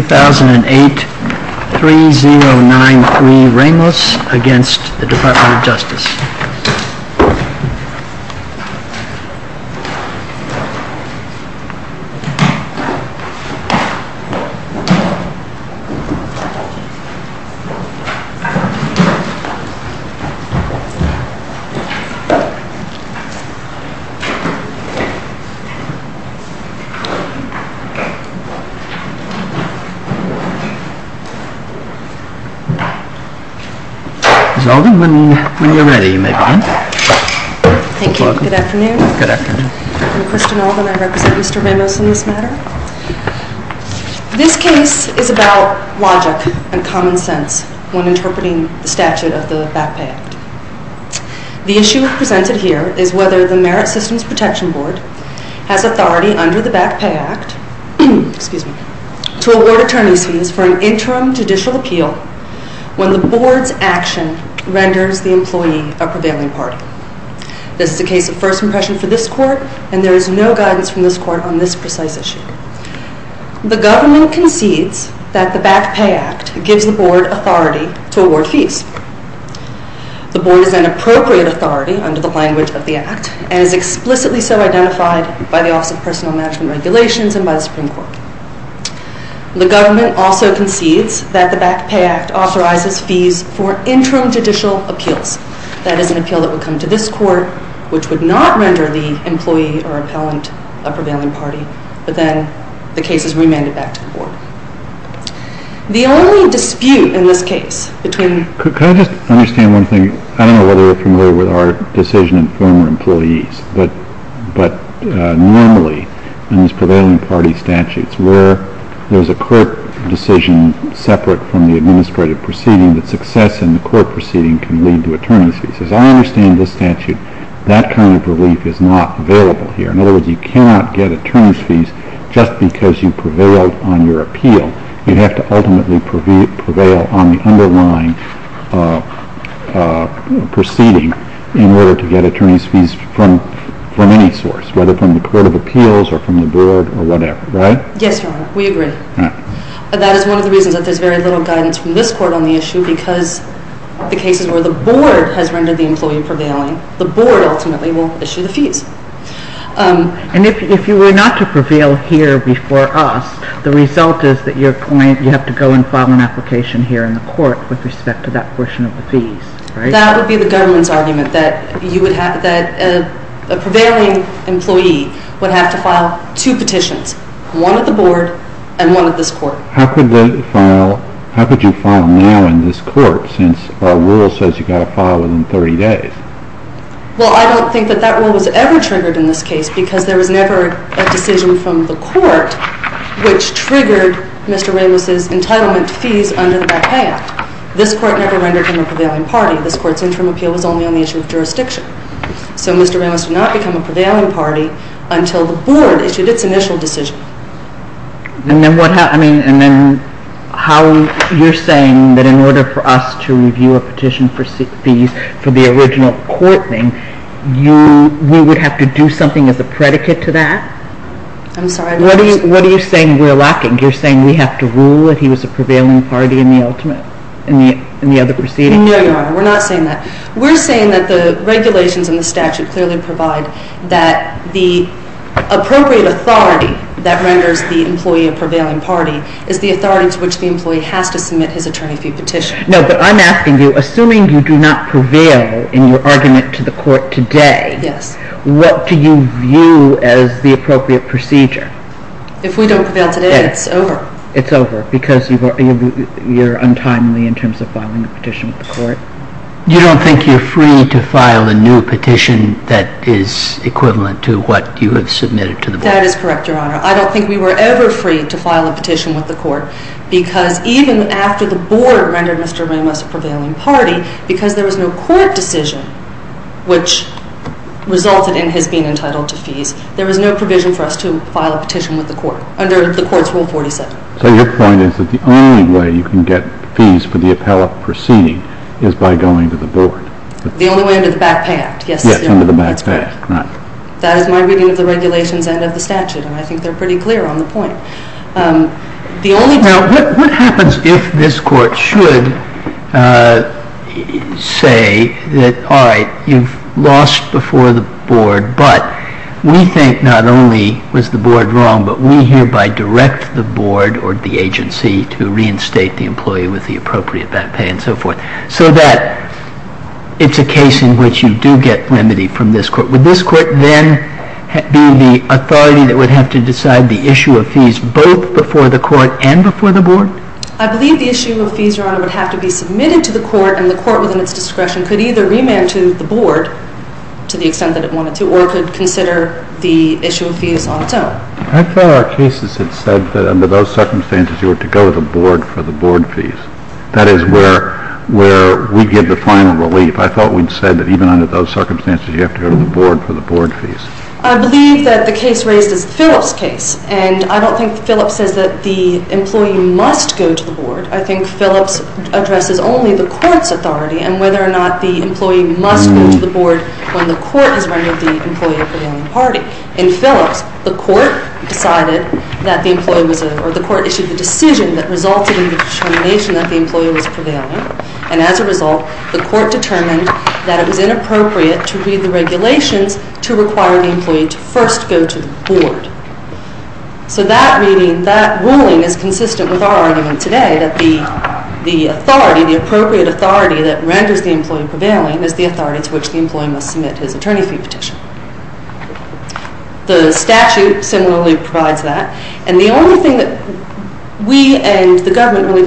2008-3093 Ramos v. Department of Justice This case is about logic and common sense when interpreting the statute of the Back Pay Act. The issue presented here is whether the Merit Systems Protection Board has authority under the Back Pay Act to award attorney's fees for an interim judicial appeal when the Board's action renders the employee a prevailing party. This is a case of first impression for this Court, and there is no guidance from this Court on this precise issue. The Government concedes that the Back Pay Act gives the Board authority to award fees. The Board is an appropriate authority under the language of the Act, and is explicitly so identified by the Office of Personal Management Regulations and by the Supreme Court. The Government also concedes that the Back Pay Act authorizes fees for interim judicial appeals. That is an appeal that would come to this Court, which would not render the employee or appellant a prevailing party, but then the case is remanded back to the Board. The only dispute in this case between... Can I just understand one thing? I don't know whether you're familiar with our decision in former employees, but normally in these prevailing party statutes where there's a court decision separate from the administrative proceeding, the success in the court proceeding can lead to attorney's fees. As I understand this statute, that kind of relief is not available here. In other words, you cannot get attorney's fees just because you prevailed on your appeal. You have to ultimately prevail on the underlying proceeding in order to get attorney's fees from any source, whether from the Court of Appeals or from the Board or whatever, right? Yes, Your Honor. We agree. That is one of the reasons that there's very little guidance from this Court on the issue because the cases where the Board has rendered the employee prevailing, the Board ultimately will issue the fees. And if you were not to prevail here before us, the result is that you're going... you have to go and file an application here in the court with respect to that portion of the fees, right? That would be the government's argument that you would have... that a prevailing employee would have to file two petitions, one at the Board and one at this court. How could they file... how could you file now in this court since our rule says you got to file within 30 days? Well, I don't think that that rule was ever triggered in this case because there was never a decision from the court which triggered Mr. Ramos's entitlement fees under the Black Act. This court never rendered him a prevailing party. This court's interim appeal was only on the issue of jurisdiction. So Mr. Ramos did not become a prevailing party until the Board issued its initial decision. And then what... I mean, and then how... you're saying that in order for us to review a petition for fees for the original court thing, you... we would have to do something as a predicate to that? I'm sorry. What are you saying we're lacking? You're saying we have to rule that he was a prevailing party in the ultimate... in the other proceedings? No, Your Honor. We're not saying that. We're saying that the regulations in the statute clearly provide that the appropriate authority that renders the employee a prevailing party is the authority to which the employee has to submit his attorney fee petition. No, but I'm asking you, assuming you do not prevail in your argument to the court today... Yes. What do you view as the appropriate procedure? If we don't prevail today, it's over. It's over because you're untimely in terms of filing a petition with the court? You don't think you're free to file a new petition that is equivalent to what you have submitted to the Board? That is correct, Your Honor. I don't think we were ever free to file a petition with the court because even after the Board rendered Mr. Ramos a prevailing party, because there was no court decision which resulted in his being entitled to fees, there was no provision for us to file a petition with the court under the court's Rule 47. So your point is that the only way you can get fees for the appellate proceeding is by going to the Board? The only way under the Back Pay Act, yes. Yes, under the Back Pay Act, right. That is my reading of the regulations and of the statute, and I think they're pretty clear on the point. Now, what happens if this Court should say that, all right, you've lost before the Board, but we think not only was the Board wrong, but we hereby direct the Board or the agency to reinstate the employee with the appropriate back pay and so forth, so that it's a case in which you do get remedy from this Court? Would this Court then be the authority that would have to decide the issue of fees both before the Court and before the Board? I believe the issue of fees, Your Honor, would have to be submitted to the Court, and the Court within its discretion could either remand to the Board, to the extent that it wanted to, or it could consider the issue of fees on its own. I thought our cases had said that under those circumstances you were to go to the Board for the Board fees. That is where we give the final relief. I thought we'd said that even under those circumstances you have to go to the Board for the Board fees. I believe that the case raised is the Phillips case, and I don't think Phillips says that the employee must go to the Board. I think Phillips addresses only the Court's authority and whether or not the employee must go to the Board when the Court has rendered the employee a prevailing party. In Phillips, the Court decided that the employee was, or the Court issued the decision that resulted in the determination that the employee was prevailing, and as a result, the Court determined that it was inappropriate to read the regulations to require the employee to first go to the Board. So that reading, that ruling, is consistent with our argument today that the authority, the appropriate authority that renders the employee prevailing is the authority to which the employee must submit his attorney fee petition. The statute similarly provides that, and the only thing that we and the Government really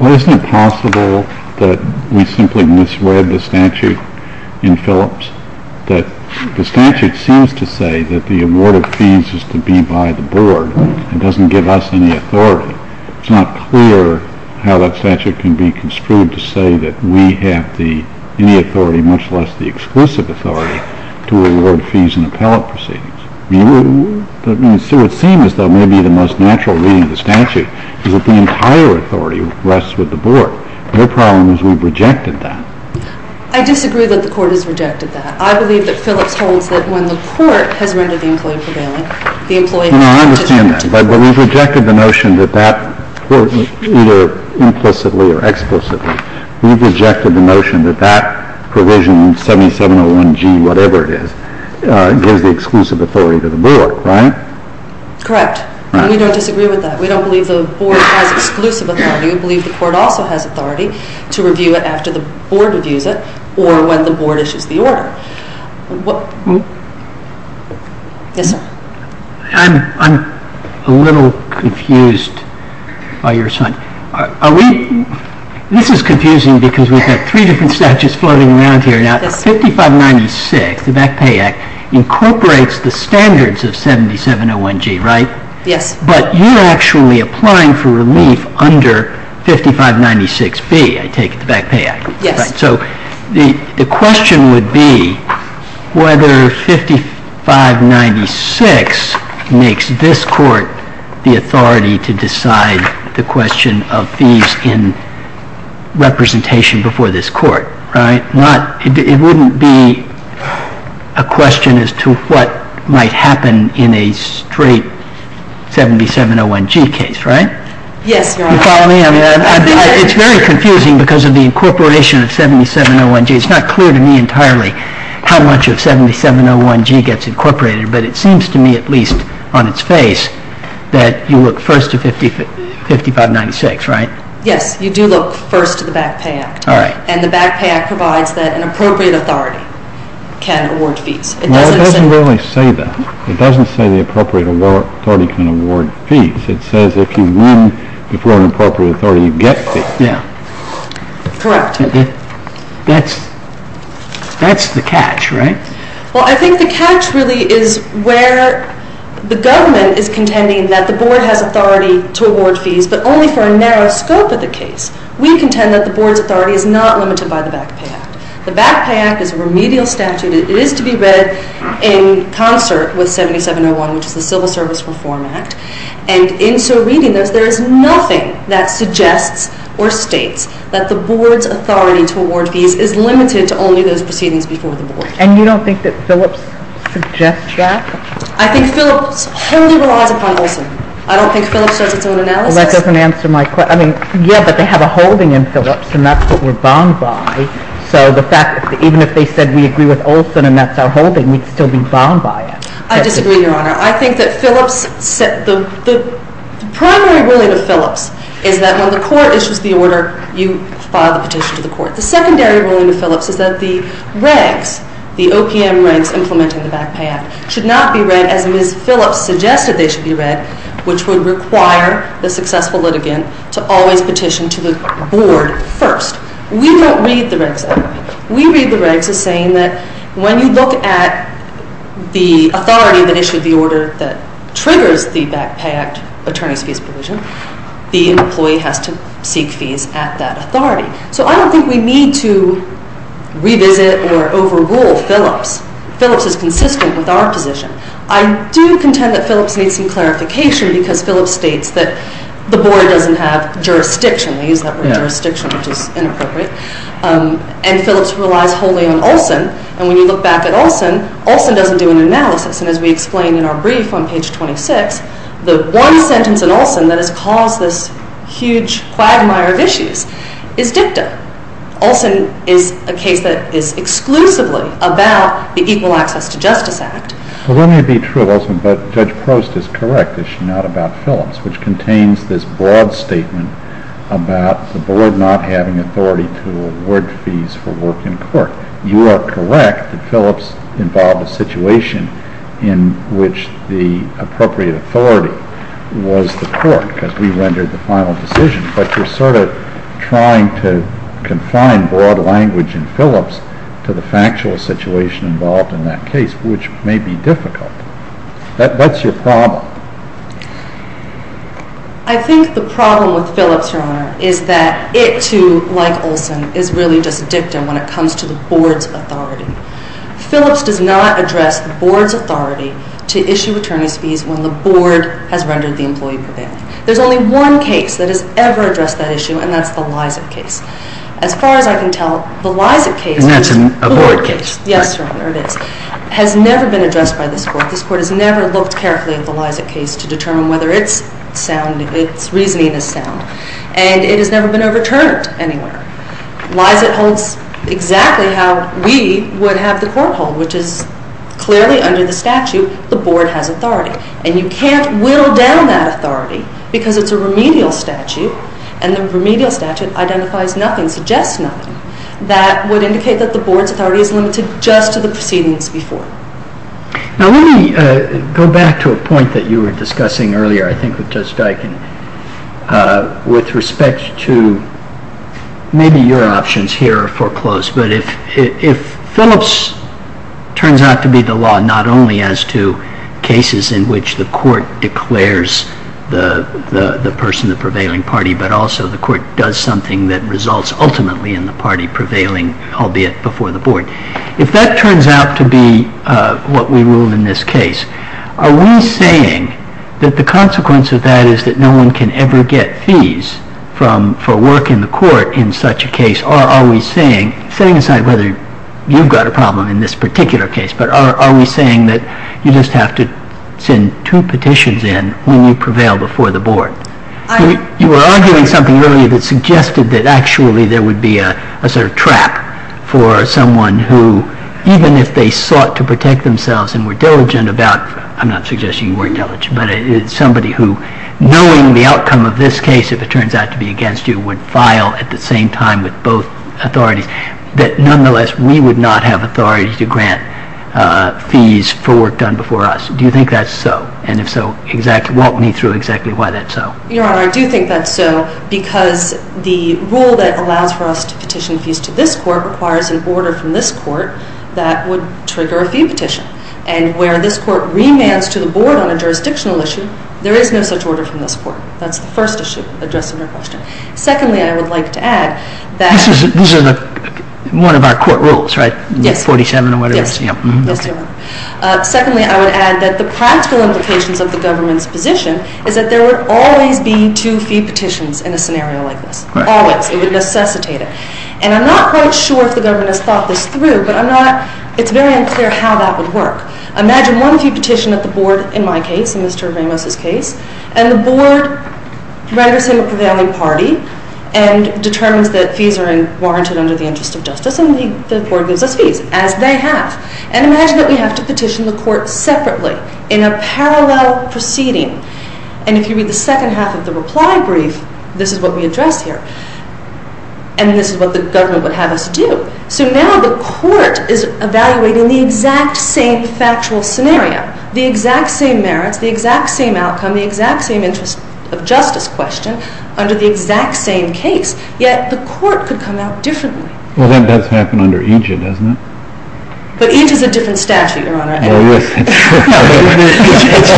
Well, isn't it possible that we simply misread the statute in Phillips? The statute seems to say that the award of fees is to be by the Board. It doesn't give us any authority. It's not clear how that statute can be construed to say that we have any authority, much less the exclusive authority, to award fees in appellate proceedings. So it seems as though maybe the most natural reading of the statute is that the entire authority rests with the Board. Their problem is we've rejected that. I disagree that the Court has rejected that. I believe that Phillips holds that when the Court has rendered the employee prevailing, the employee has to submit to the Court. No, I understand that, but we've rejected the notion that that, either implicitly or explicitly, we've rejected the notion that that provision in 7701G, whatever it is, gives the exclusive authority to the Board, right? Correct. We don't disagree with that. We don't believe the Board has exclusive authority. We believe the Court also has authority to review it after the Board reviews it or when the Board issues the order. Yes, sir? I'm a little confused by your assignment. This is confusing because we've got three different statutes floating around here. Now, 5596, the Back Pay Act, incorporates the standards of 7701G, right? Yes. But you're actually applying for relief under 5596B, I take it, the Back Pay Act. Yes. So the question would be whether 5596 makes this Court the authority to decide the question of fees in representation before this Court, right? It wouldn't be a question as to what might happen in a straight 7701G case, right? Yes, Your Honor. Do you follow me? It's very confusing because of the incorporation of 7701G. It's not clear to me entirely how much of 7701G gets incorporated, but it seems to me, at least on its face, that you look first to 5596, right? Yes, you do look first to the Back Pay Act. All right. And the Back Pay Act provides that an appropriate authority can award fees. Well, it doesn't really say that. It doesn't say the appropriate authority can award fees. It says if you win before an appropriate authority, you get fees. Yes. Correct. That's the catch, right? Well, I think the catch really is where the government is contending that the Board has authority to award fees, but only for a narrow scope of the case. We contend that the Board's authority is not limited by the Back Pay Act. The Back Pay Act is a remedial statute. It is to be read in concert with 7701, which is the Civil Service Reform Act. And in so reading this, there is nothing that suggests or states that the Board's authority to award fees is limited to only those proceedings before the Board. And you don't think that Phillips suggests that? I think Phillips wholly relies upon Olson. I don't think Phillips does its own analysis. Well, that doesn't answer my question. I mean, yeah, but they have a holding in Phillips, and that's what we're bound by. So the fact that even if they said we agree with Olson and that's our holding, we'd still be bound by it. I disagree, Your Honor. I think that the primary ruling of Phillips is that when the court issues the order, you file the petition to the court. The secondary ruling of Phillips is that the regs, the OPM regs implementing the Back Pay Act, should not be read as Ms. Phillips suggested they should be read, which would require the successful litigant to always petition to the Board first. We don't read the regs that way. We read the regs as saying that when you look at the authority that issued the order that triggers the Back Pay Act attorney's fees provision, the employee has to seek fees at that authority. So I don't think we need to revisit or overrule Phillips. Phillips is consistent with our position. I do contend that Phillips needs some clarification because Phillips states that the Board doesn't have jurisdiction. They use that word jurisdiction, which is inappropriate. And Phillips relies wholly on Olson, and when you look back at Olson, Olson doesn't do an analysis. And as we explained in our brief on page 26, the one sentence in Olson that has caused this huge quagmire of issues is dicta. Olson is a case that is exclusively about the Equal Access to Justice Act. Well, let me be true of Olson, but Judge Prost is correct. It's not about Phillips, which contains this broad statement about the Board not having authority to award fees for work in court. You are correct that Phillips involved a situation in which the appropriate authority was the court because we rendered the final decision. But you're sort of trying to confine broad language in Phillips to the factual situation involved in that case, which may be difficult. That's your problem. I think the problem with Phillips, Your Honor, is that it, too, like Olson, is really just dicta when it comes to the Board's authority. Phillips does not address the Board's authority to issue attorney's fees when the Board has rendered the employee prevailing. There's only one case that has ever addressed that issue, and that's the Lizett case. As far as I can tell, the Lizett case... Isn't that a Board case? Yes, Your Honor, it is. It has never been addressed by this Court. This Court has never looked carefully at the Lizett case to determine whether its sound, its reasoning is sound. And it has never been overturned anywhere. Lizett holds exactly how we would have the Court hold, which is clearly under the statute the Board has authority. And you can't whittle down that authority because it's a remedial statute, and the remedial statute identifies nothing, suggests nothing, that would indicate that the Board's authority is limited just to the proceedings before. Now, let me go back to a point that you were discussing earlier, I think, with Judge Dykin, with respect to maybe your options here are foreclosed. But if Phillips turns out to be the law not only as to cases in which the Court declares the person, the prevailing party, but also the Court does something that results ultimately in the party prevailing, albeit before the Board. If that turns out to be what we rule in this case, are we saying that the consequence of that is that no one can ever get fees for work in the Court in such a case? Or are we saying, setting aside whether you've got a problem in this particular case, but are we saying that you just have to send two petitions in when you prevail before the Board? You were arguing something earlier that suggested that actually there would be a sort of trap for someone who, even if they sought to protect themselves and were diligent about, I'm not suggesting you weren't diligent, but somebody who, knowing the outcome of this case, if it turns out to be against you, would file at the same time with both authorities, that nonetheless we would not have authority to grant fees for work done before us. Do you think that's so? And if so, walk me through exactly why that's so. Your Honor, I do think that's so because the rule that allows for us to petition fees to this Court requires an order from this Court that would trigger a fee petition. And where this Court remands to the Board on a jurisdictional issue, there is no such order from this Court. That's the first issue addressed in your question. Secondly, I would like to add that... This is one of our court rules, right? Yes. 47 or whatever? Yes. Secondly, I would add that the practical implications of the government's position is that there would always be two fee petitions in a scenario like this. Always. It would necessitate it. And I'm not quite sure if the government has thought this through, but it's very unclear how that would work. Imagine one fee petition at the Board, in my case, in Mr. Ramos' case, and the Board renders him a prevailing party and determines that fees are warranted under the interest of justice, and the Board gives us fees, as they have. And imagine that we have to petition the Court separately in a parallel proceeding. And if you read the second half of the reply brief, this is what we address here. And this is what the government would have us do. So now the Court is evaluating the exact same factual scenario, the exact same merits, the exact same outcome, the exact same interest of justice question under the exact same case, yet the Court could come out differently. Well, that does happen under each, doesn't it? But each is a different statute, Your Honor. Well, it is. It's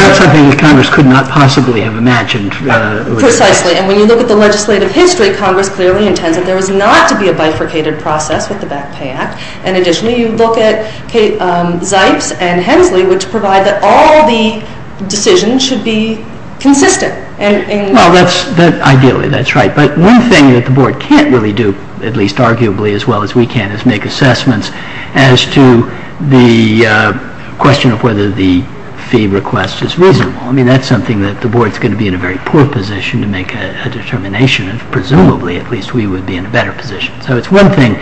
not something that Congress could not possibly have imagined. Precisely. And when you look at the legislative history, Congress clearly intends that there is not to be a bifurcated process with the Back Pay Act. And additionally, you look at Zipes and Hensley, which provide that all the decisions should be consistent. Well, ideally, that's right. But one thing that the Board can't really do, at least arguably as well as we can, is make assessments as to the question of whether the fee request is reasonable. I mean, that's something that the Board is going to be in a very poor position to make a determination of. Presumably, at least, we would be in a better position. So it's one thing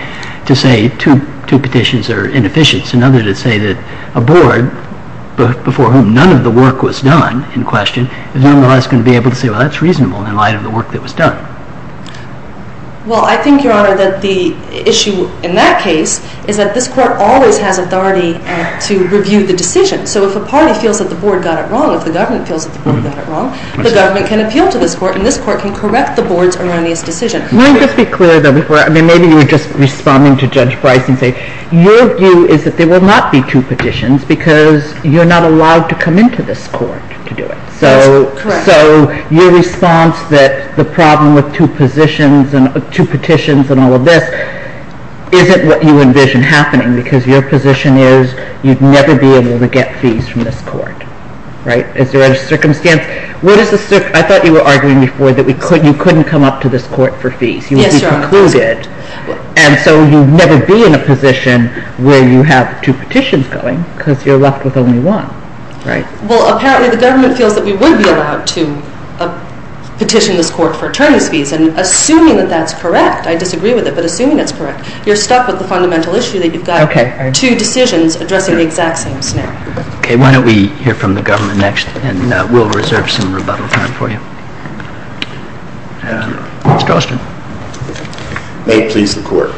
to say two petitions are inefficient. It's another to say that a Board before whom none of the work was done in question is nonetheless going to be able to say, well, that's reasonable in light of the work that was done. Well, I think, Your Honor, that the issue in that case is that this Court always has authority to review the decision. So if a party feels that the Board got it wrong, if the government feels that the Board got it wrong, the government can appeal to this Court, and this Court can correct the Board's erroneous decision. Let me just be clear, though, before. I mean, maybe you were just responding to Judge Price and say, your view is that there will not be two petitions because you're not allowed to come into this Court to do it. That's correct. So your response that the problem with two petitions and all of this isn't what you envision happening because your position is you'd never be able to get fees from this Court. Right? Because you're under circumstance. I thought you were arguing before that you couldn't come up to this Court for fees. Yes, Your Honor. You would be precluded. And so you'd never be in a position where you have two petitions going because you're left with only one. Right. Well, apparently the government feels that we would be allowed to petition this Court for attorney's fees. And assuming that that's correct, I disagree with it, but assuming that's correct, you're stuck with the fundamental issue that you've got two decisions addressing the exact same scenario. Okay. Why don't we hear from the government next, and we'll reserve some rebuttal time for you. Mr. Alston. May it please the Court.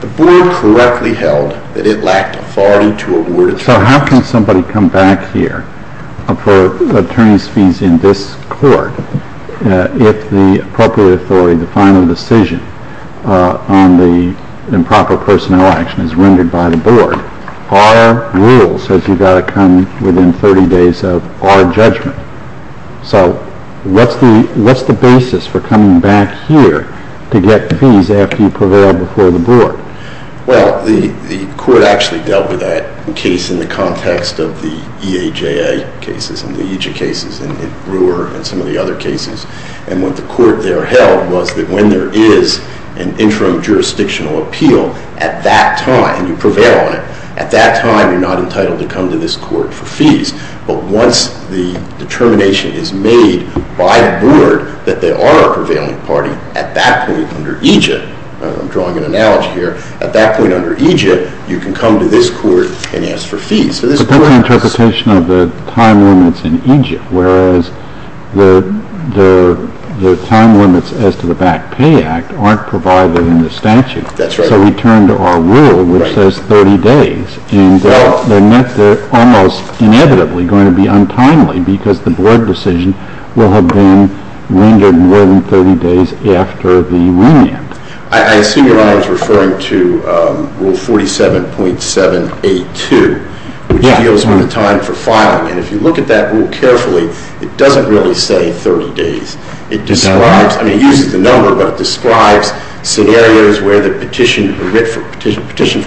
The Board correctly held that it lacked authority to award attorneys. So how can somebody come back here for attorney's fees in this Court if the appropriate authority, the final decision on the improper personnel action is rendered by the Board? Our rule says you've got to come within 30 days of our judgment. So what's the basis for coming back here to get fees after you prevail before the Board? Well, the Court actually dealt with that case in the context of the EAJA cases and the EJA cases and the Brewer and some of the other cases. And what the Court there held was that when there is an interim jurisdictional appeal at that time and you prevail on it, at that time you're not entitled to come to this Court for fees. But once the determination is made by the Board that there are a prevailing party, at that point under EJA, I'm drawing an analogy here, at that point under EJA, you can come to this Court and ask for fees. But that's an interpretation of the time limits in EJA, whereas the time limits as to the Back Pay Act aren't provided in the statute. That's right. So we turn to our rule, which says 30 days, and they're almost inevitably going to be untimely because the Board decision will have been rendered more than 30 days after the remand. I assume you're referring to Rule 47.782, which deals with the time for filing. And if you look at that rule carefully, it doesn't really say 30 days. It describes, I mean it uses the number, but it describes scenarios where the petition for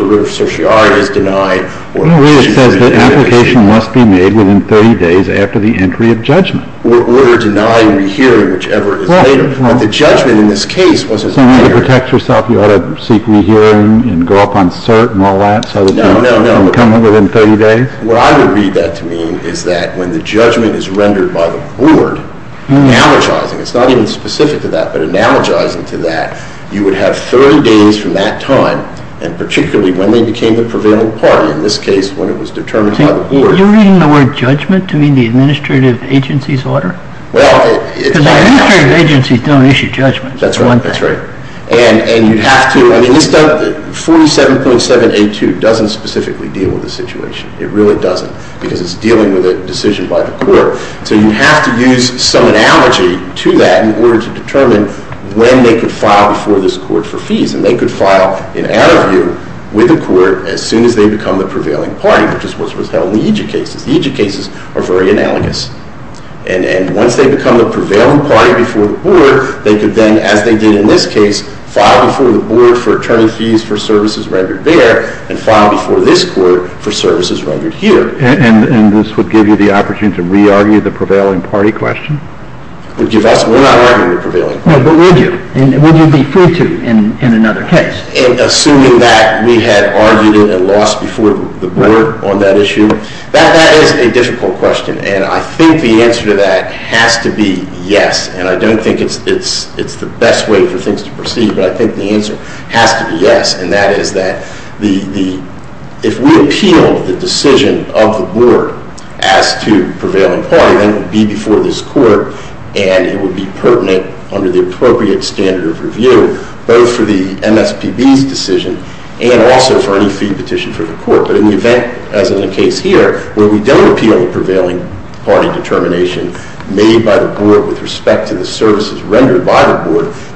writ of certiorari is denied. In a way it says the application must be made within 30 days after the entry of judgment. Or they're denying re-hearing, whichever is later. The judgment in this case wasn't later. So in order to protect yourself, you ought to seek re-hearing and go up on cert and all that? No, no, no. And come within 30 days? What I would read that to mean is that when the judgment is rendered by the Board, analogizing, it's not even specific to that, but analogizing to that, you would have 30 days from that time, and particularly when they became the prevailing party, in this case when it was determined by the Board. You're reading the word judgment to mean the administrative agency's order? Well, it's… Because the administrative agencies don't issue judgments. That's right, that's right. And you'd have to, I mean this stuff, 47.782 doesn't specifically deal with the situation. It really doesn't because it's dealing with a decision by the Court. So you have to use some analogy to that in order to determine when they could file before this Court for fees. And they could file in our view with the Court as soon as they become the prevailing party, which is what's held in the Egypt cases. The Egypt cases are very analogous. And once they become the prevailing party before the Board, they could then, as they did in this case, file before the Board for attorney fees for services rendered there, and file before this Court for services rendered here. And this would give you the opportunity to re-argue the prevailing party question? We're not arguing the prevailing party question. But would you? Would you be free to in another case? Assuming that we had argued it and lost before the Board on that issue, that is a difficult question. And I think the answer to that has to be yes. And I don't think it's the best way for things to proceed, but I think the answer has to be yes. And that is that if we appeal the decision of the Board as to prevailing party, then it would be before this Court and it would be pertinent under the appropriate standard of review, both for the MSPB's decision and also for any fee petition for the Court. But in the event, as in the case here, where we don't appeal the prevailing party determination made by the Board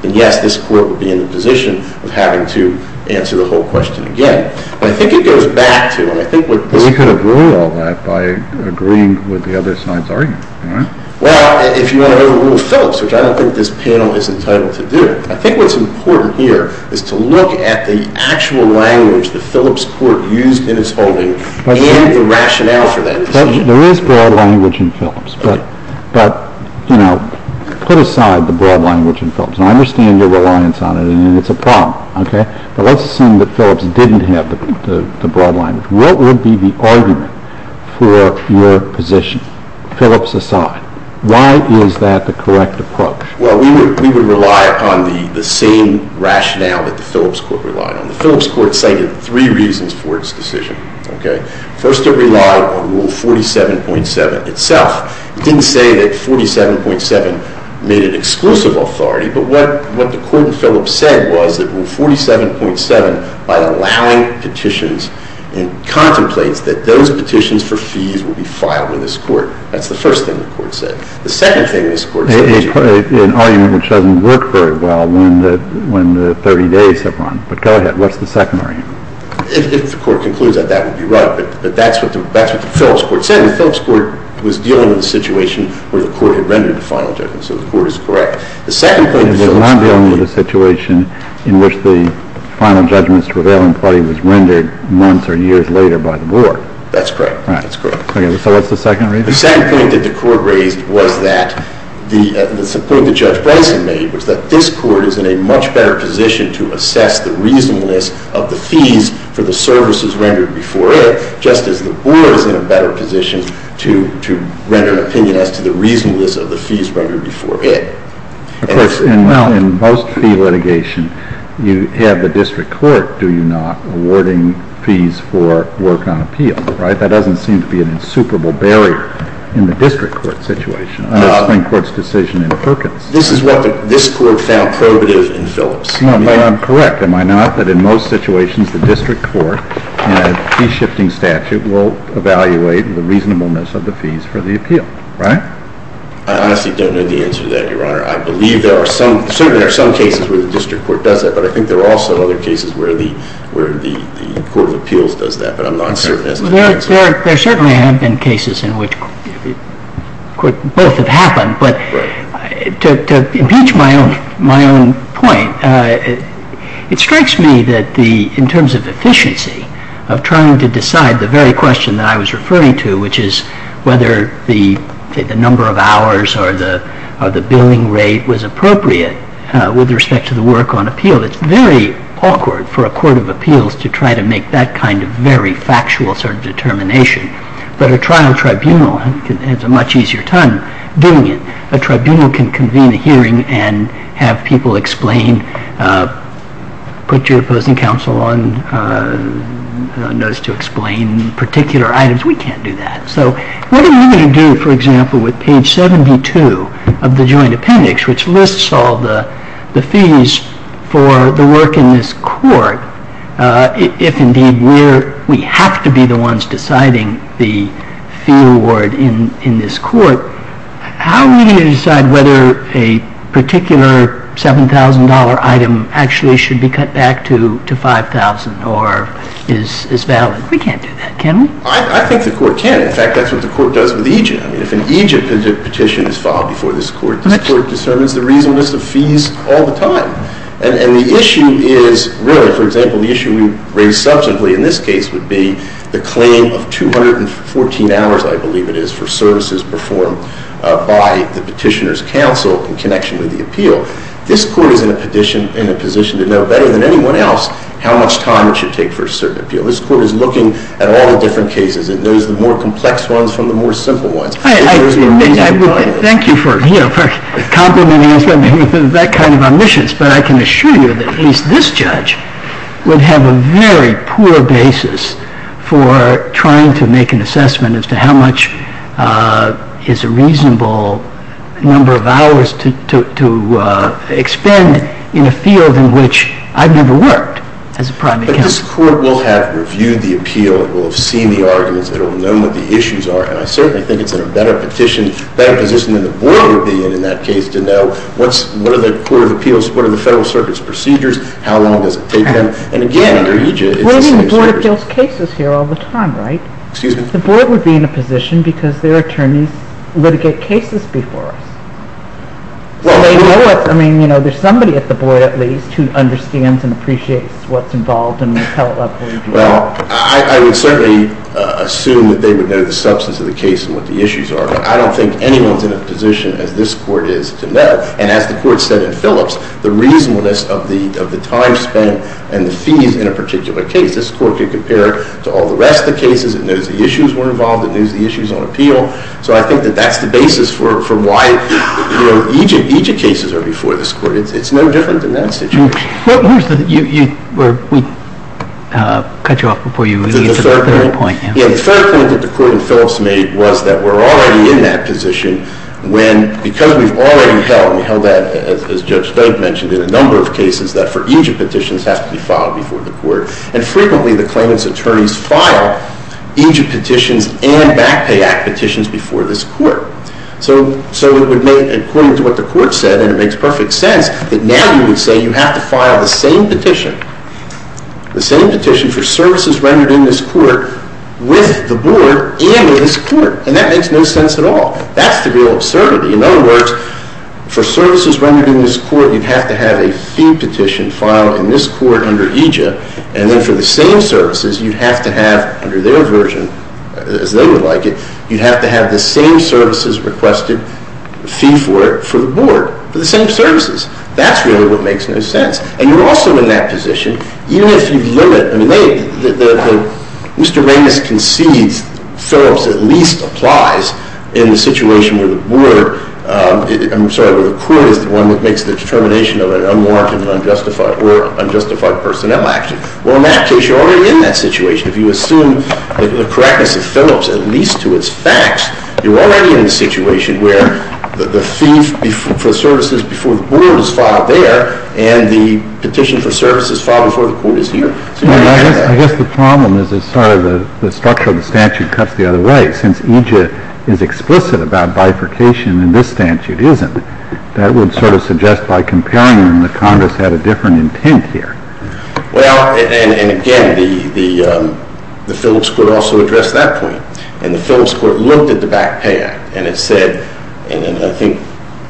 then yes, this Court would be in the position of having to answer the whole question again. But I think it goes back to, and I think what this Court But we could have ruled all that by agreeing with the other side's argument, right? Well, if you want to overrule Phillips, which I don't think this panel is entitled to do, I think what's important here is to look at the actual language that Phillips Court used in its holding and the rationale for that decision. There is broad language in Phillips. But, you know, put aside the broad language in Phillips. And I understand your reliance on it, and it's a problem, okay? But let's assume that Phillips didn't have the broad language. What would be the argument for your position, Phillips aside? Why is that the correct approach? Well, we would rely on the same rationale that the Phillips Court relied on. The Phillips Court cited three reasons for its decision, okay? First, it relied on Rule 47.7 itself. It didn't say that 47.7 made it exclusive authority. But what the Court in Phillips said was that Rule 47.7, by allowing petitions and contemplates, that those petitions for fees will be filed with this Court. That's the first thing the Court said. The second thing this Court said was that it's a court decision. An argument which doesn't work very well when the 30 days have run. But go ahead. What's the second argument? If the Court concludes that, that would be right. But that's what the Phillips Court said. The Phillips Court was dealing with a situation where the Court had rendered a final judgment. So the Court is correct. The second point the Phillips Court made... It was not dealing with a situation in which the final judgment's revealing party was rendered months or years later by the Board. That's correct. That's correct. So what's the second reason? The second point that the Court raised was that the point that Judge Branson made was that this Court is in a much better position to assess the reasonableness of the fees for the services rendered before it, just as the Board is in a better position to render an opinion as to the reasonableness of the fees rendered before it. Of course, in most fee litigation, you have the district court, do you not, awarding fees for work on appeal, right? That doesn't seem to be an insuperable barrier in the district court situation or the Supreme Court's decision in Perkins. This is what this Court found probative in Phillips. No, but I'm correct, am I not, that in most situations the district court in a fee-shifting statute will evaluate the reasonableness of the fees for the appeal, right? I honestly don't know the answer to that, Your Honor. I believe there are some cases where the district court does that, but I think there are also other cases where the Court of Appeals does that, but I'm not certain as to the answer. There certainly have been cases in which both have happened, but to impeach my own point, it strikes me that in terms of efficiency, of trying to decide the very question that I was referring to, which is whether the number of hours or the billing rate was appropriate with respect to the work on appeal, it's very awkward for a Court of Appeals to try to make that kind of very factual sort of determination, but a trial tribunal has a much easier time doing it. A tribunal can convene a hearing and have people explain, put your opposing counsel on notice to explain particular items. We can't do that, so what are you going to do, for example, with page 72 of the joint appendix, which lists all the fees for the work in this court, if indeed we have to be the ones deciding the fee award in this court, how are we going to decide whether a particular $7,000 item actually should be cut back to $5,000 or is valid? We can't do that, can we? I think the court can. In fact, that's what the court does with Egypt. If an Egypt petition is filed before this court, this court determines the reasonableness of fees all the time. And the issue is really, for example, the issue we raise substantively in this case would be the claim of 214 hours, I believe it is, for services performed by the petitioner's counsel in connection with the appeal. This court is in a position to know better than anyone else how much time it should take for a certain appeal. This court is looking at all the different cases and knows the more complex ones from the more simple ones. Thank you for complimenting us with that kind of omniscience, but I can assure you that at least this judge would have a very poor basis for trying to make an assessment as to how much is a reasonable number of hours to expend in a field in which I've never worked as a private counsel. But this court will have reviewed the appeal and will have seen the arguments. It will have known what the issues are. And I certainly think it's in a better position than the board would be in, in that case, to know what are the federal circuit's procedures, how long does it take them. And again, under EJ, it's the same circuit. We're in the Board of Appeals cases here all the time, right? Excuse me? The board would be in a position because their attorneys litigate cases before us. So they know us. I mean, you know, there's somebody at the board, at least, who understands and appreciates what's involved and will tell us what to do. Well, I would certainly assume that they would know the substance of the case and what the issues are. But I don't think anyone's in a position as this court is to know. And as the court said in Phillips, the reasonableness of the time spent and the fees in a particular case, this court could compare it to all the rest of the cases. It knows the issues were involved. It knows the issues on appeal. So I think that that's the basis for why EJ cases are before this court. It's no different than that situation. We cut you off before you get to the third point. The third point that the court in Phillips made was that we're already in that position when because we've already held that, as Judge Spade mentioned, in a number of cases that for EJIT petitions have to be filed before the court. And frequently the claimant's attorneys file EJIT petitions and back pay act petitions before this court. So it would make, according to what the court said, and it makes perfect sense that now you would say you have to file the same petition, the same petition for services rendered in this court with the board and in this court. And that makes no sense at all. That's the real absurdity. In other words, for services rendered in this court, you'd have to have a fee petition filed in this court under EJIT. And then for the same services, you'd have to have, under their version, as they would like it, you'd have to have the same services requested, fee for it, for the board. For the same services. That's really what makes no sense. And you're also in that position, even if you limit, I mean, Mr. Ramos concedes Phillips at least applies in the situation where the board, I'm sorry, where the court is the one that makes the determination of an unmarked and unjustified, or unjustified personnel action. Well, in that case, you're already in that situation. If you assume the correctness of Phillips at least to its facts, you're already in the situation where the fee for services before the board is filed there and the petition for services filed before the court is here. I guess the problem is it's sort of the structure of the statute cuts the other way. Since EJIT is explicit about bifurcation and this statute isn't, that would sort of suggest by comparing them that Congress had a different intent here. Well, and again, the Phillips could also address that point. And the Phillips court looked at the Back Pay Act and it said, and I think,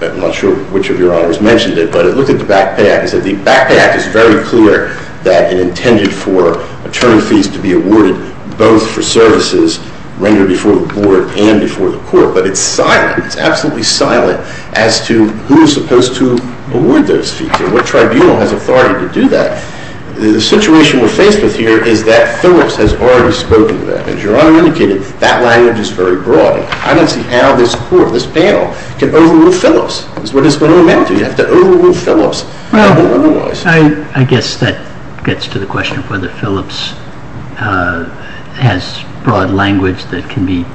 I'm not sure which of your honors mentioned it, but it looked at the Back Pay Act and said the Back Pay Act is very clear that it intended for attorney fees to be awarded both for services rendered before the board and before the court, but it's silent. It's absolutely silent as to who is supposed to award those fees and what tribunal has authority to do that. The situation we're faced with here is that Phillips has already spoken to that. As Your Honor indicated, that language is very broad. I don't see how this court, this panel, can overrule Phillips. That's what it's going to amend to. You have to overrule Phillips. I guess that gets to the question of whether Phillips has broad language that can be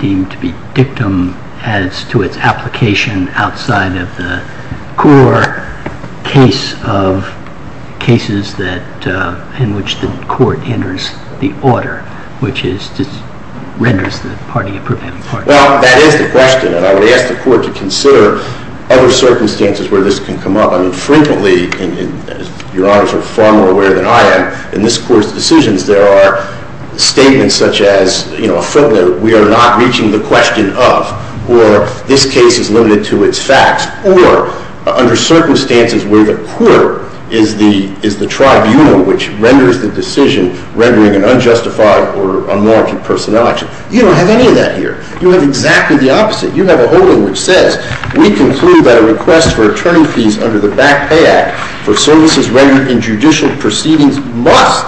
deemed to be dictum as to its application outside of the core case of cases in which the court enters the order, which renders the party a prevailing party. Well, that is the question, and I would ask the court to consider other circumstances where this can come up. I mean, frequently, and Your Honors are far more aware than I am, in this court's decisions there are statements such as a footnote, we are not reaching the question of, or this case is limited to its facts, or under circumstances where the court is the tribunal which renders the decision rendering an unjustified or unlawful personage. You don't have any of that here. You have exactly the opposite. You have a holding which says we conclude that a request for attorney fees under the Back Pay Act for services rendered in judicial proceedings must,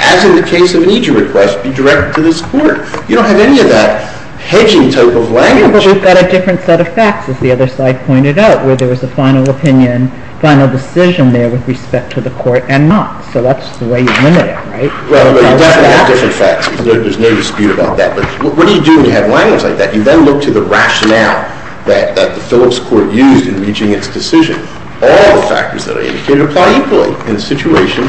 as in the case of an EJU request, be directed to this court. You don't have any of that hedging type of language. But we've got a different set of facts, as the other side pointed out, where there is a final opinion, final decision there with respect to the court, and not. So that's the way you limit it, right? Well, you definitely have different facts. There's no dispute about that. But what do you do when you have language like that? You then look to the rationale that the Phillips Court used in reaching its decision. All the factors that are indicated apply equally in the situation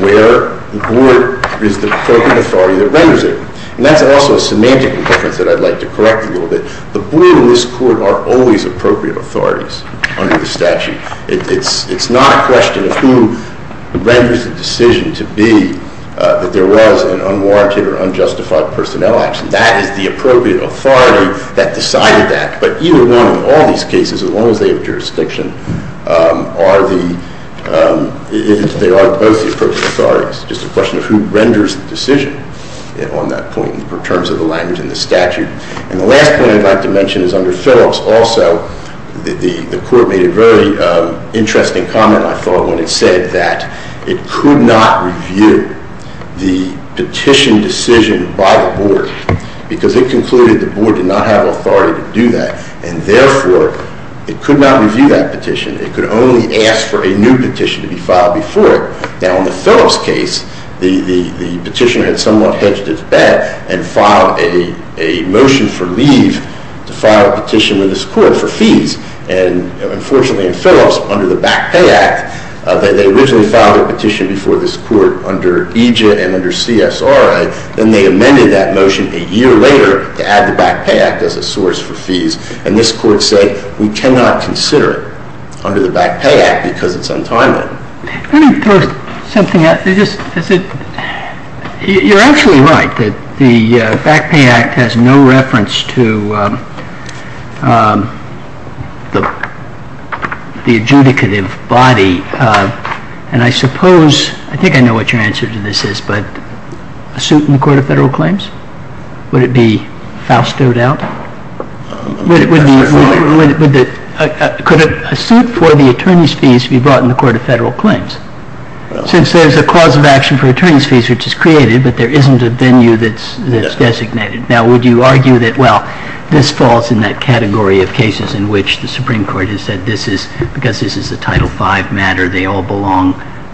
where the court is the appropriate authority that renders it. And that's also a semantic difference that I'd like to correct a little bit. The board and this court are always appropriate authorities under the statute. It's not a question of who renders the decision to be that there was an unwarranted or unjustified personnel action. That is the appropriate authority that decided that. But either one of all these cases, as long as they have jurisdiction, they are both the appropriate authorities. It's just a question of who renders the decision on that point in terms of the language and the statute. And the last point I'd like to mention is under Phillips also, the court made a very interesting comment, I thought, when it said that it could not review the petition decision by the board because it concluded the board did not have authority to do that. And therefore, it could not review that petition. It could only ask for a new petition to be filed before it. Now, in the Phillips case, the petitioner had somewhat hedged his bet and filed a motion for leave to file a petition with this court for fees. And, unfortunately, in Phillips, under the Back Pay Act, they originally filed a petition before this court under EJIA and under CSRA. Then they amended that motion a year later to add the Back Pay Act as a source for fees. And this court said we cannot consider it under the Back Pay Act because it's untimely. Let me throw something out there. You're actually right that the Back Pay Act has no reference to the adjudicative body. And I suppose, I think I know what your answer to this is, but a suit in the Court of Federal Claims? Would it be fastowed out? Could a suit for the attorney's fees be brought in the Court of Federal Claims? Since there's a cause of action for attorney's fees which is created, but there isn't a venue that's designated. Now, would you argue that, well, this falls in that category of cases in which the Supreme Court has said because this is a Title V matter, they all belong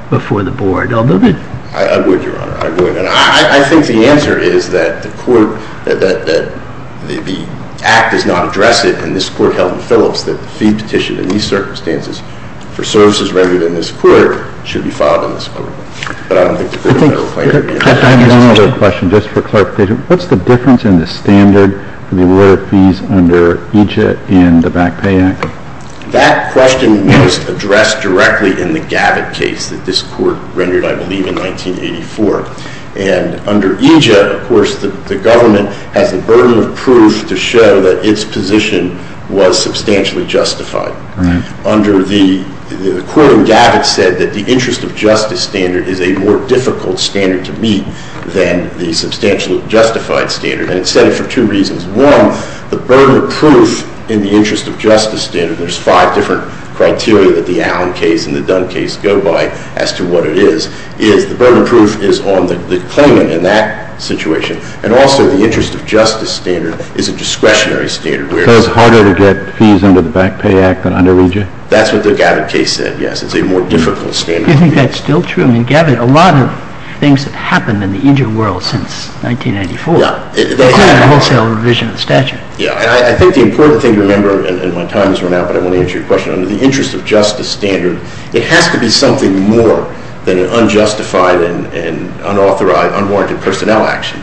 before the board? I would, Your Honor. I would. And I think the answer is that the act does not address it, and this court held in Phillips that the fee petition in these circumstances for services rendered in this court should be filed in this court. But I don't think the Court of Federal Claims would do that. I have one other question just for Clark. What's the difference in the standard for the alert fees under EJIT and the Back Pay Act? That question was addressed directly in the Gavit case that this court rendered, I believe, in 1984. And under EJIT, of course, the government has the burden of proof to show that its position was substantially justified. Right. Under the court in Gavit said that the interest of justice standard is a more difficult standard to meet than the substantially justified standard, and it said it for two reasons. One, the burden of proof in the interest of justice standard, there's five different criteria that the Allen case and the Dunn case go by as to what it is, is the burden of proof is on the claimant in that situation, and also the interest of justice standard is a discretionary standard. So it's harder to get fees under the Back Pay Act than under EJIT? That's what the Gavit case said, yes. It's a more difficult standard to meet. Do you think that's still true? I mean, Gavit, a lot of things have happened in the EJIT world since 1994, including the wholesale revision of the statute. Yeah, and I think the important thing to remember, and my time has run out, but I want to answer your question, under the interest of justice standard, it has to be something more than an unjustified and unauthorized, unwarranted personnel action,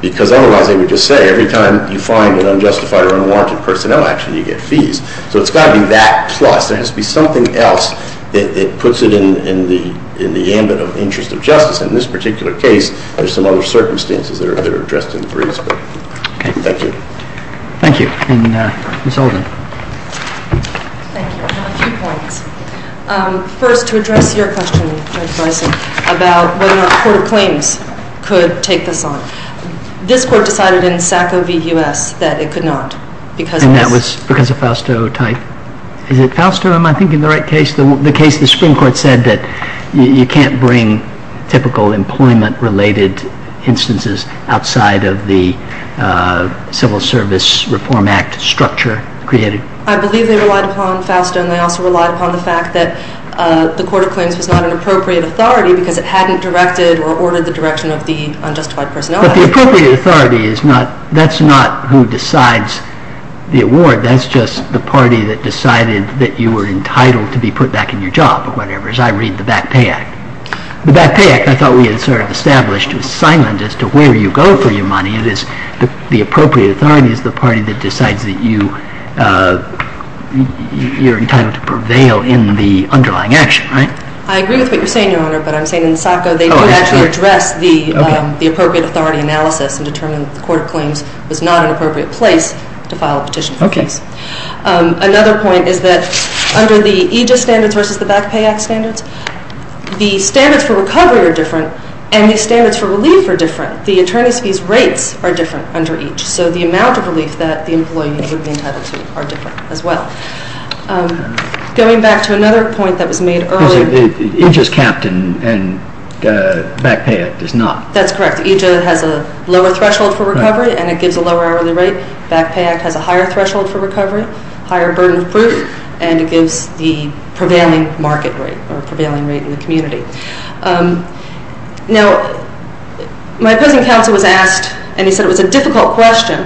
because otherwise they would just say every time you find an unjustified or unwarranted personnel action, you get fees. So it's got to be that plus. There has to be something else that puts it in the ambit of interest of justice. In this particular case, there's some other circumstances that are addressed in the briefs. Okay. Thank you. Thank you. And Ms. Olden. Thank you. I have a few points. First, to address your question, Judge Bison, about whether or not a court of claims could take this on. This court decided in SACO v. U.S. that it could not because of this. And that was because of Fausto type? Is it Fausto? Am I thinking the right case? The case the Supreme Court said that you can't bring typical employment-related instances outside of the Civil Service Reform Act structure created? I believe they relied upon Fausto. And they also relied upon the fact that the court of claims was not an appropriate authority because it hadn't directed or ordered the direction of the unjustified personnel. But the appropriate authority, that's not who decides the award. That's just the party that decided that you were entitled to be put back in your job or whatever, as I read the Back Pay Act. The Back Pay Act, I thought we had sort of established, was silent as to where you go for your money. The appropriate authority is the party that decides that you're entitled to prevail in the underlying action, right? I agree with what you're saying, Your Honor. But I'm saying in SACO they didn't actually address the appropriate authority analysis and determined that the court of claims was not an appropriate place to file a petition. Okay. Another point is that under the EJIS standards versus the Back Pay Act standards, the standards for recovery are different and the standards for relief are different. But the attorney's fees rates are different under each. So the amount of relief that the employee would be entitled to are different as well. Going back to another point that was made earlier. EJIS capped and Back Pay Act does not. That's correct. EJIS has a lower threshold for recovery and it gives a lower hourly rate. Back Pay Act has a higher threshold for recovery, higher burden of proof, Now, my opposing counsel was asked, and he said it was a difficult question,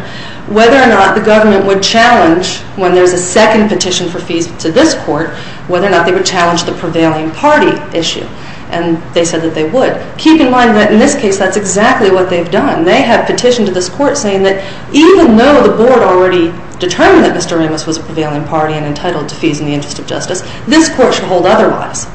whether or not the government would challenge when there's a second petition for fees to this court, whether or not they would challenge the prevailing party issue. And they said that they would. Keep in mind that in this case that's exactly what they've done. They have petitioned to this court saying that even though the board already determined that Mr. Ramos was a prevailing party and entitled to fees in the interest of justice, this court should hold otherwise.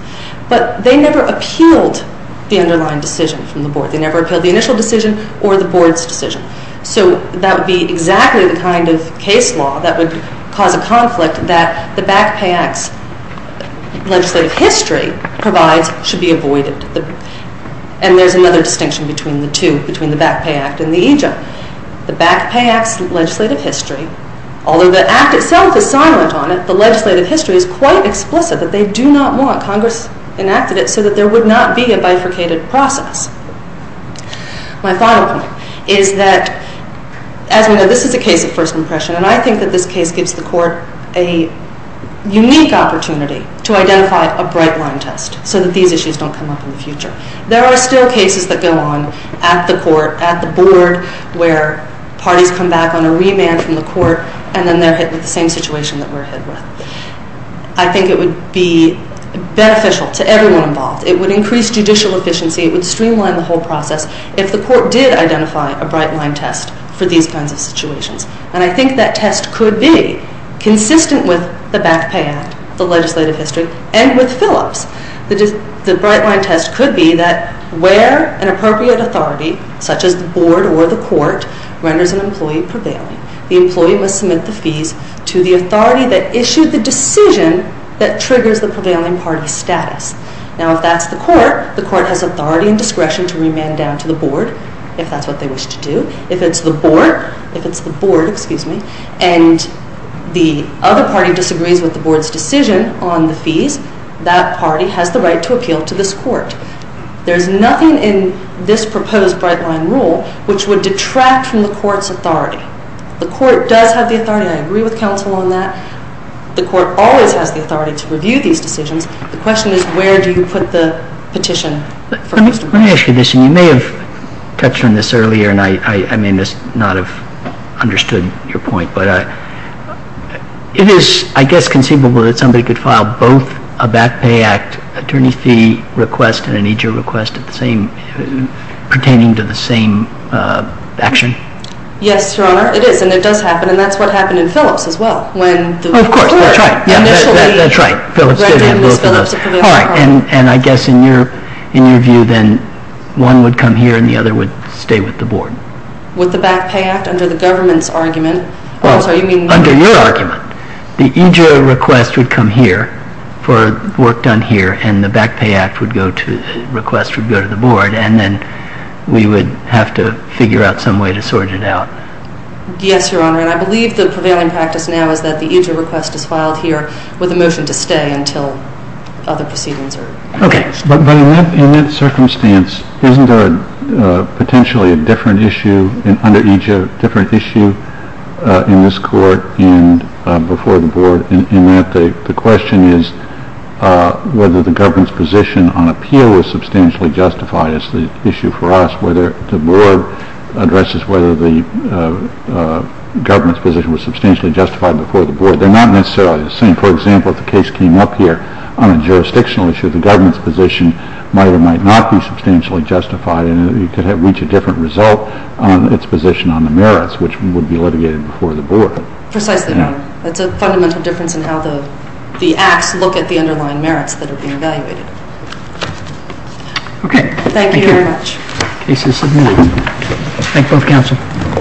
But they never appealed the underlying decision from the board. They never appealed the initial decision or the board's decision. So that would be exactly the kind of case law that would cause a conflict that the Back Pay Act's legislative history provides should be avoided. And there's another distinction between the two, between the Back Pay Act and the EJIS. The Back Pay Act's legislative history, although the act itself is silent on it, the legislative history is quite explicit that they do not want Congress enacted it so that there would not be a bifurcated process. My final point is that, as we know, this is a case of first impression, and I think that this case gives the court a unique opportunity to identify a bright line test so that these issues don't come up in the future. There are still cases that go on at the court, at the board, where parties come back on a remand from the court, and then they're hit with the same situation that we're hit with. I think it would be beneficial to everyone involved. It would increase judicial efficiency. It would streamline the whole process if the court did identify a bright line test for these kinds of situations. And I think that test could be consistent with the Back Pay Act, the legislative history, and with Phillips. The bright line test could be that where an appropriate authority, such as the board or the court, renders an employee prevailing, the employee must submit the fees to the authority that issued the decision that triggers the prevailing party's status. Now, if that's the court, the court has authority and discretion to remand down to the board, if that's what they wish to do. If it's the board, and the other party disagrees with the board's decision on the fees, that party has the right to appeal to this court. There's nothing in this proposed bright line rule which would detract from the court's authority. The court does have the authority. I agree with counsel on that. The court always has the authority to review these decisions. The question is where do you put the petition? Let me ask you this, and you may have touched on this earlier, and I may not have understood your point, but it is, I guess, conceivable that somebody could file both a Back Pay Act attorney fee request and an EJO request pertaining to the same action? Yes, Your Honor, it is, and it does happen, and that's what happened in Phillips as well. Oh, of course, that's right. That's right. Phillips did have both of those. And I guess in your view, then, one would come here and the other would stay with the board. With the Back Pay Act? Under the government's argument? Under your argument, the EJO request would come here for work done here, and the Back Pay Act request would go to the board, and then we would have to figure out some way to sort it out. Yes, Your Honor, and I believe the prevailing practice now is that the EJO request is filed here with a motion to stay until other proceedings are placed. Okay, but in that circumstance, isn't there potentially a different issue under EJO, a different issue in this court and before the board, in that the question is whether the government's position on appeal is substantially justified. It's the issue for us whether the board addresses whether the government's position was substantially justified before the board. They're not necessarily the same. For example, if the case came up here on a jurisdictional issue, the government's position might or might not be substantially justified, and it could have reached a different result on its position on the merits, which would be litigated before the board. Precisely, Your Honor. That's a fundamental difference in how the acts look at the underlying merits that are being evaluated. Okay. Thank you very much. Thank you. The case is submitted. Thank both counsel.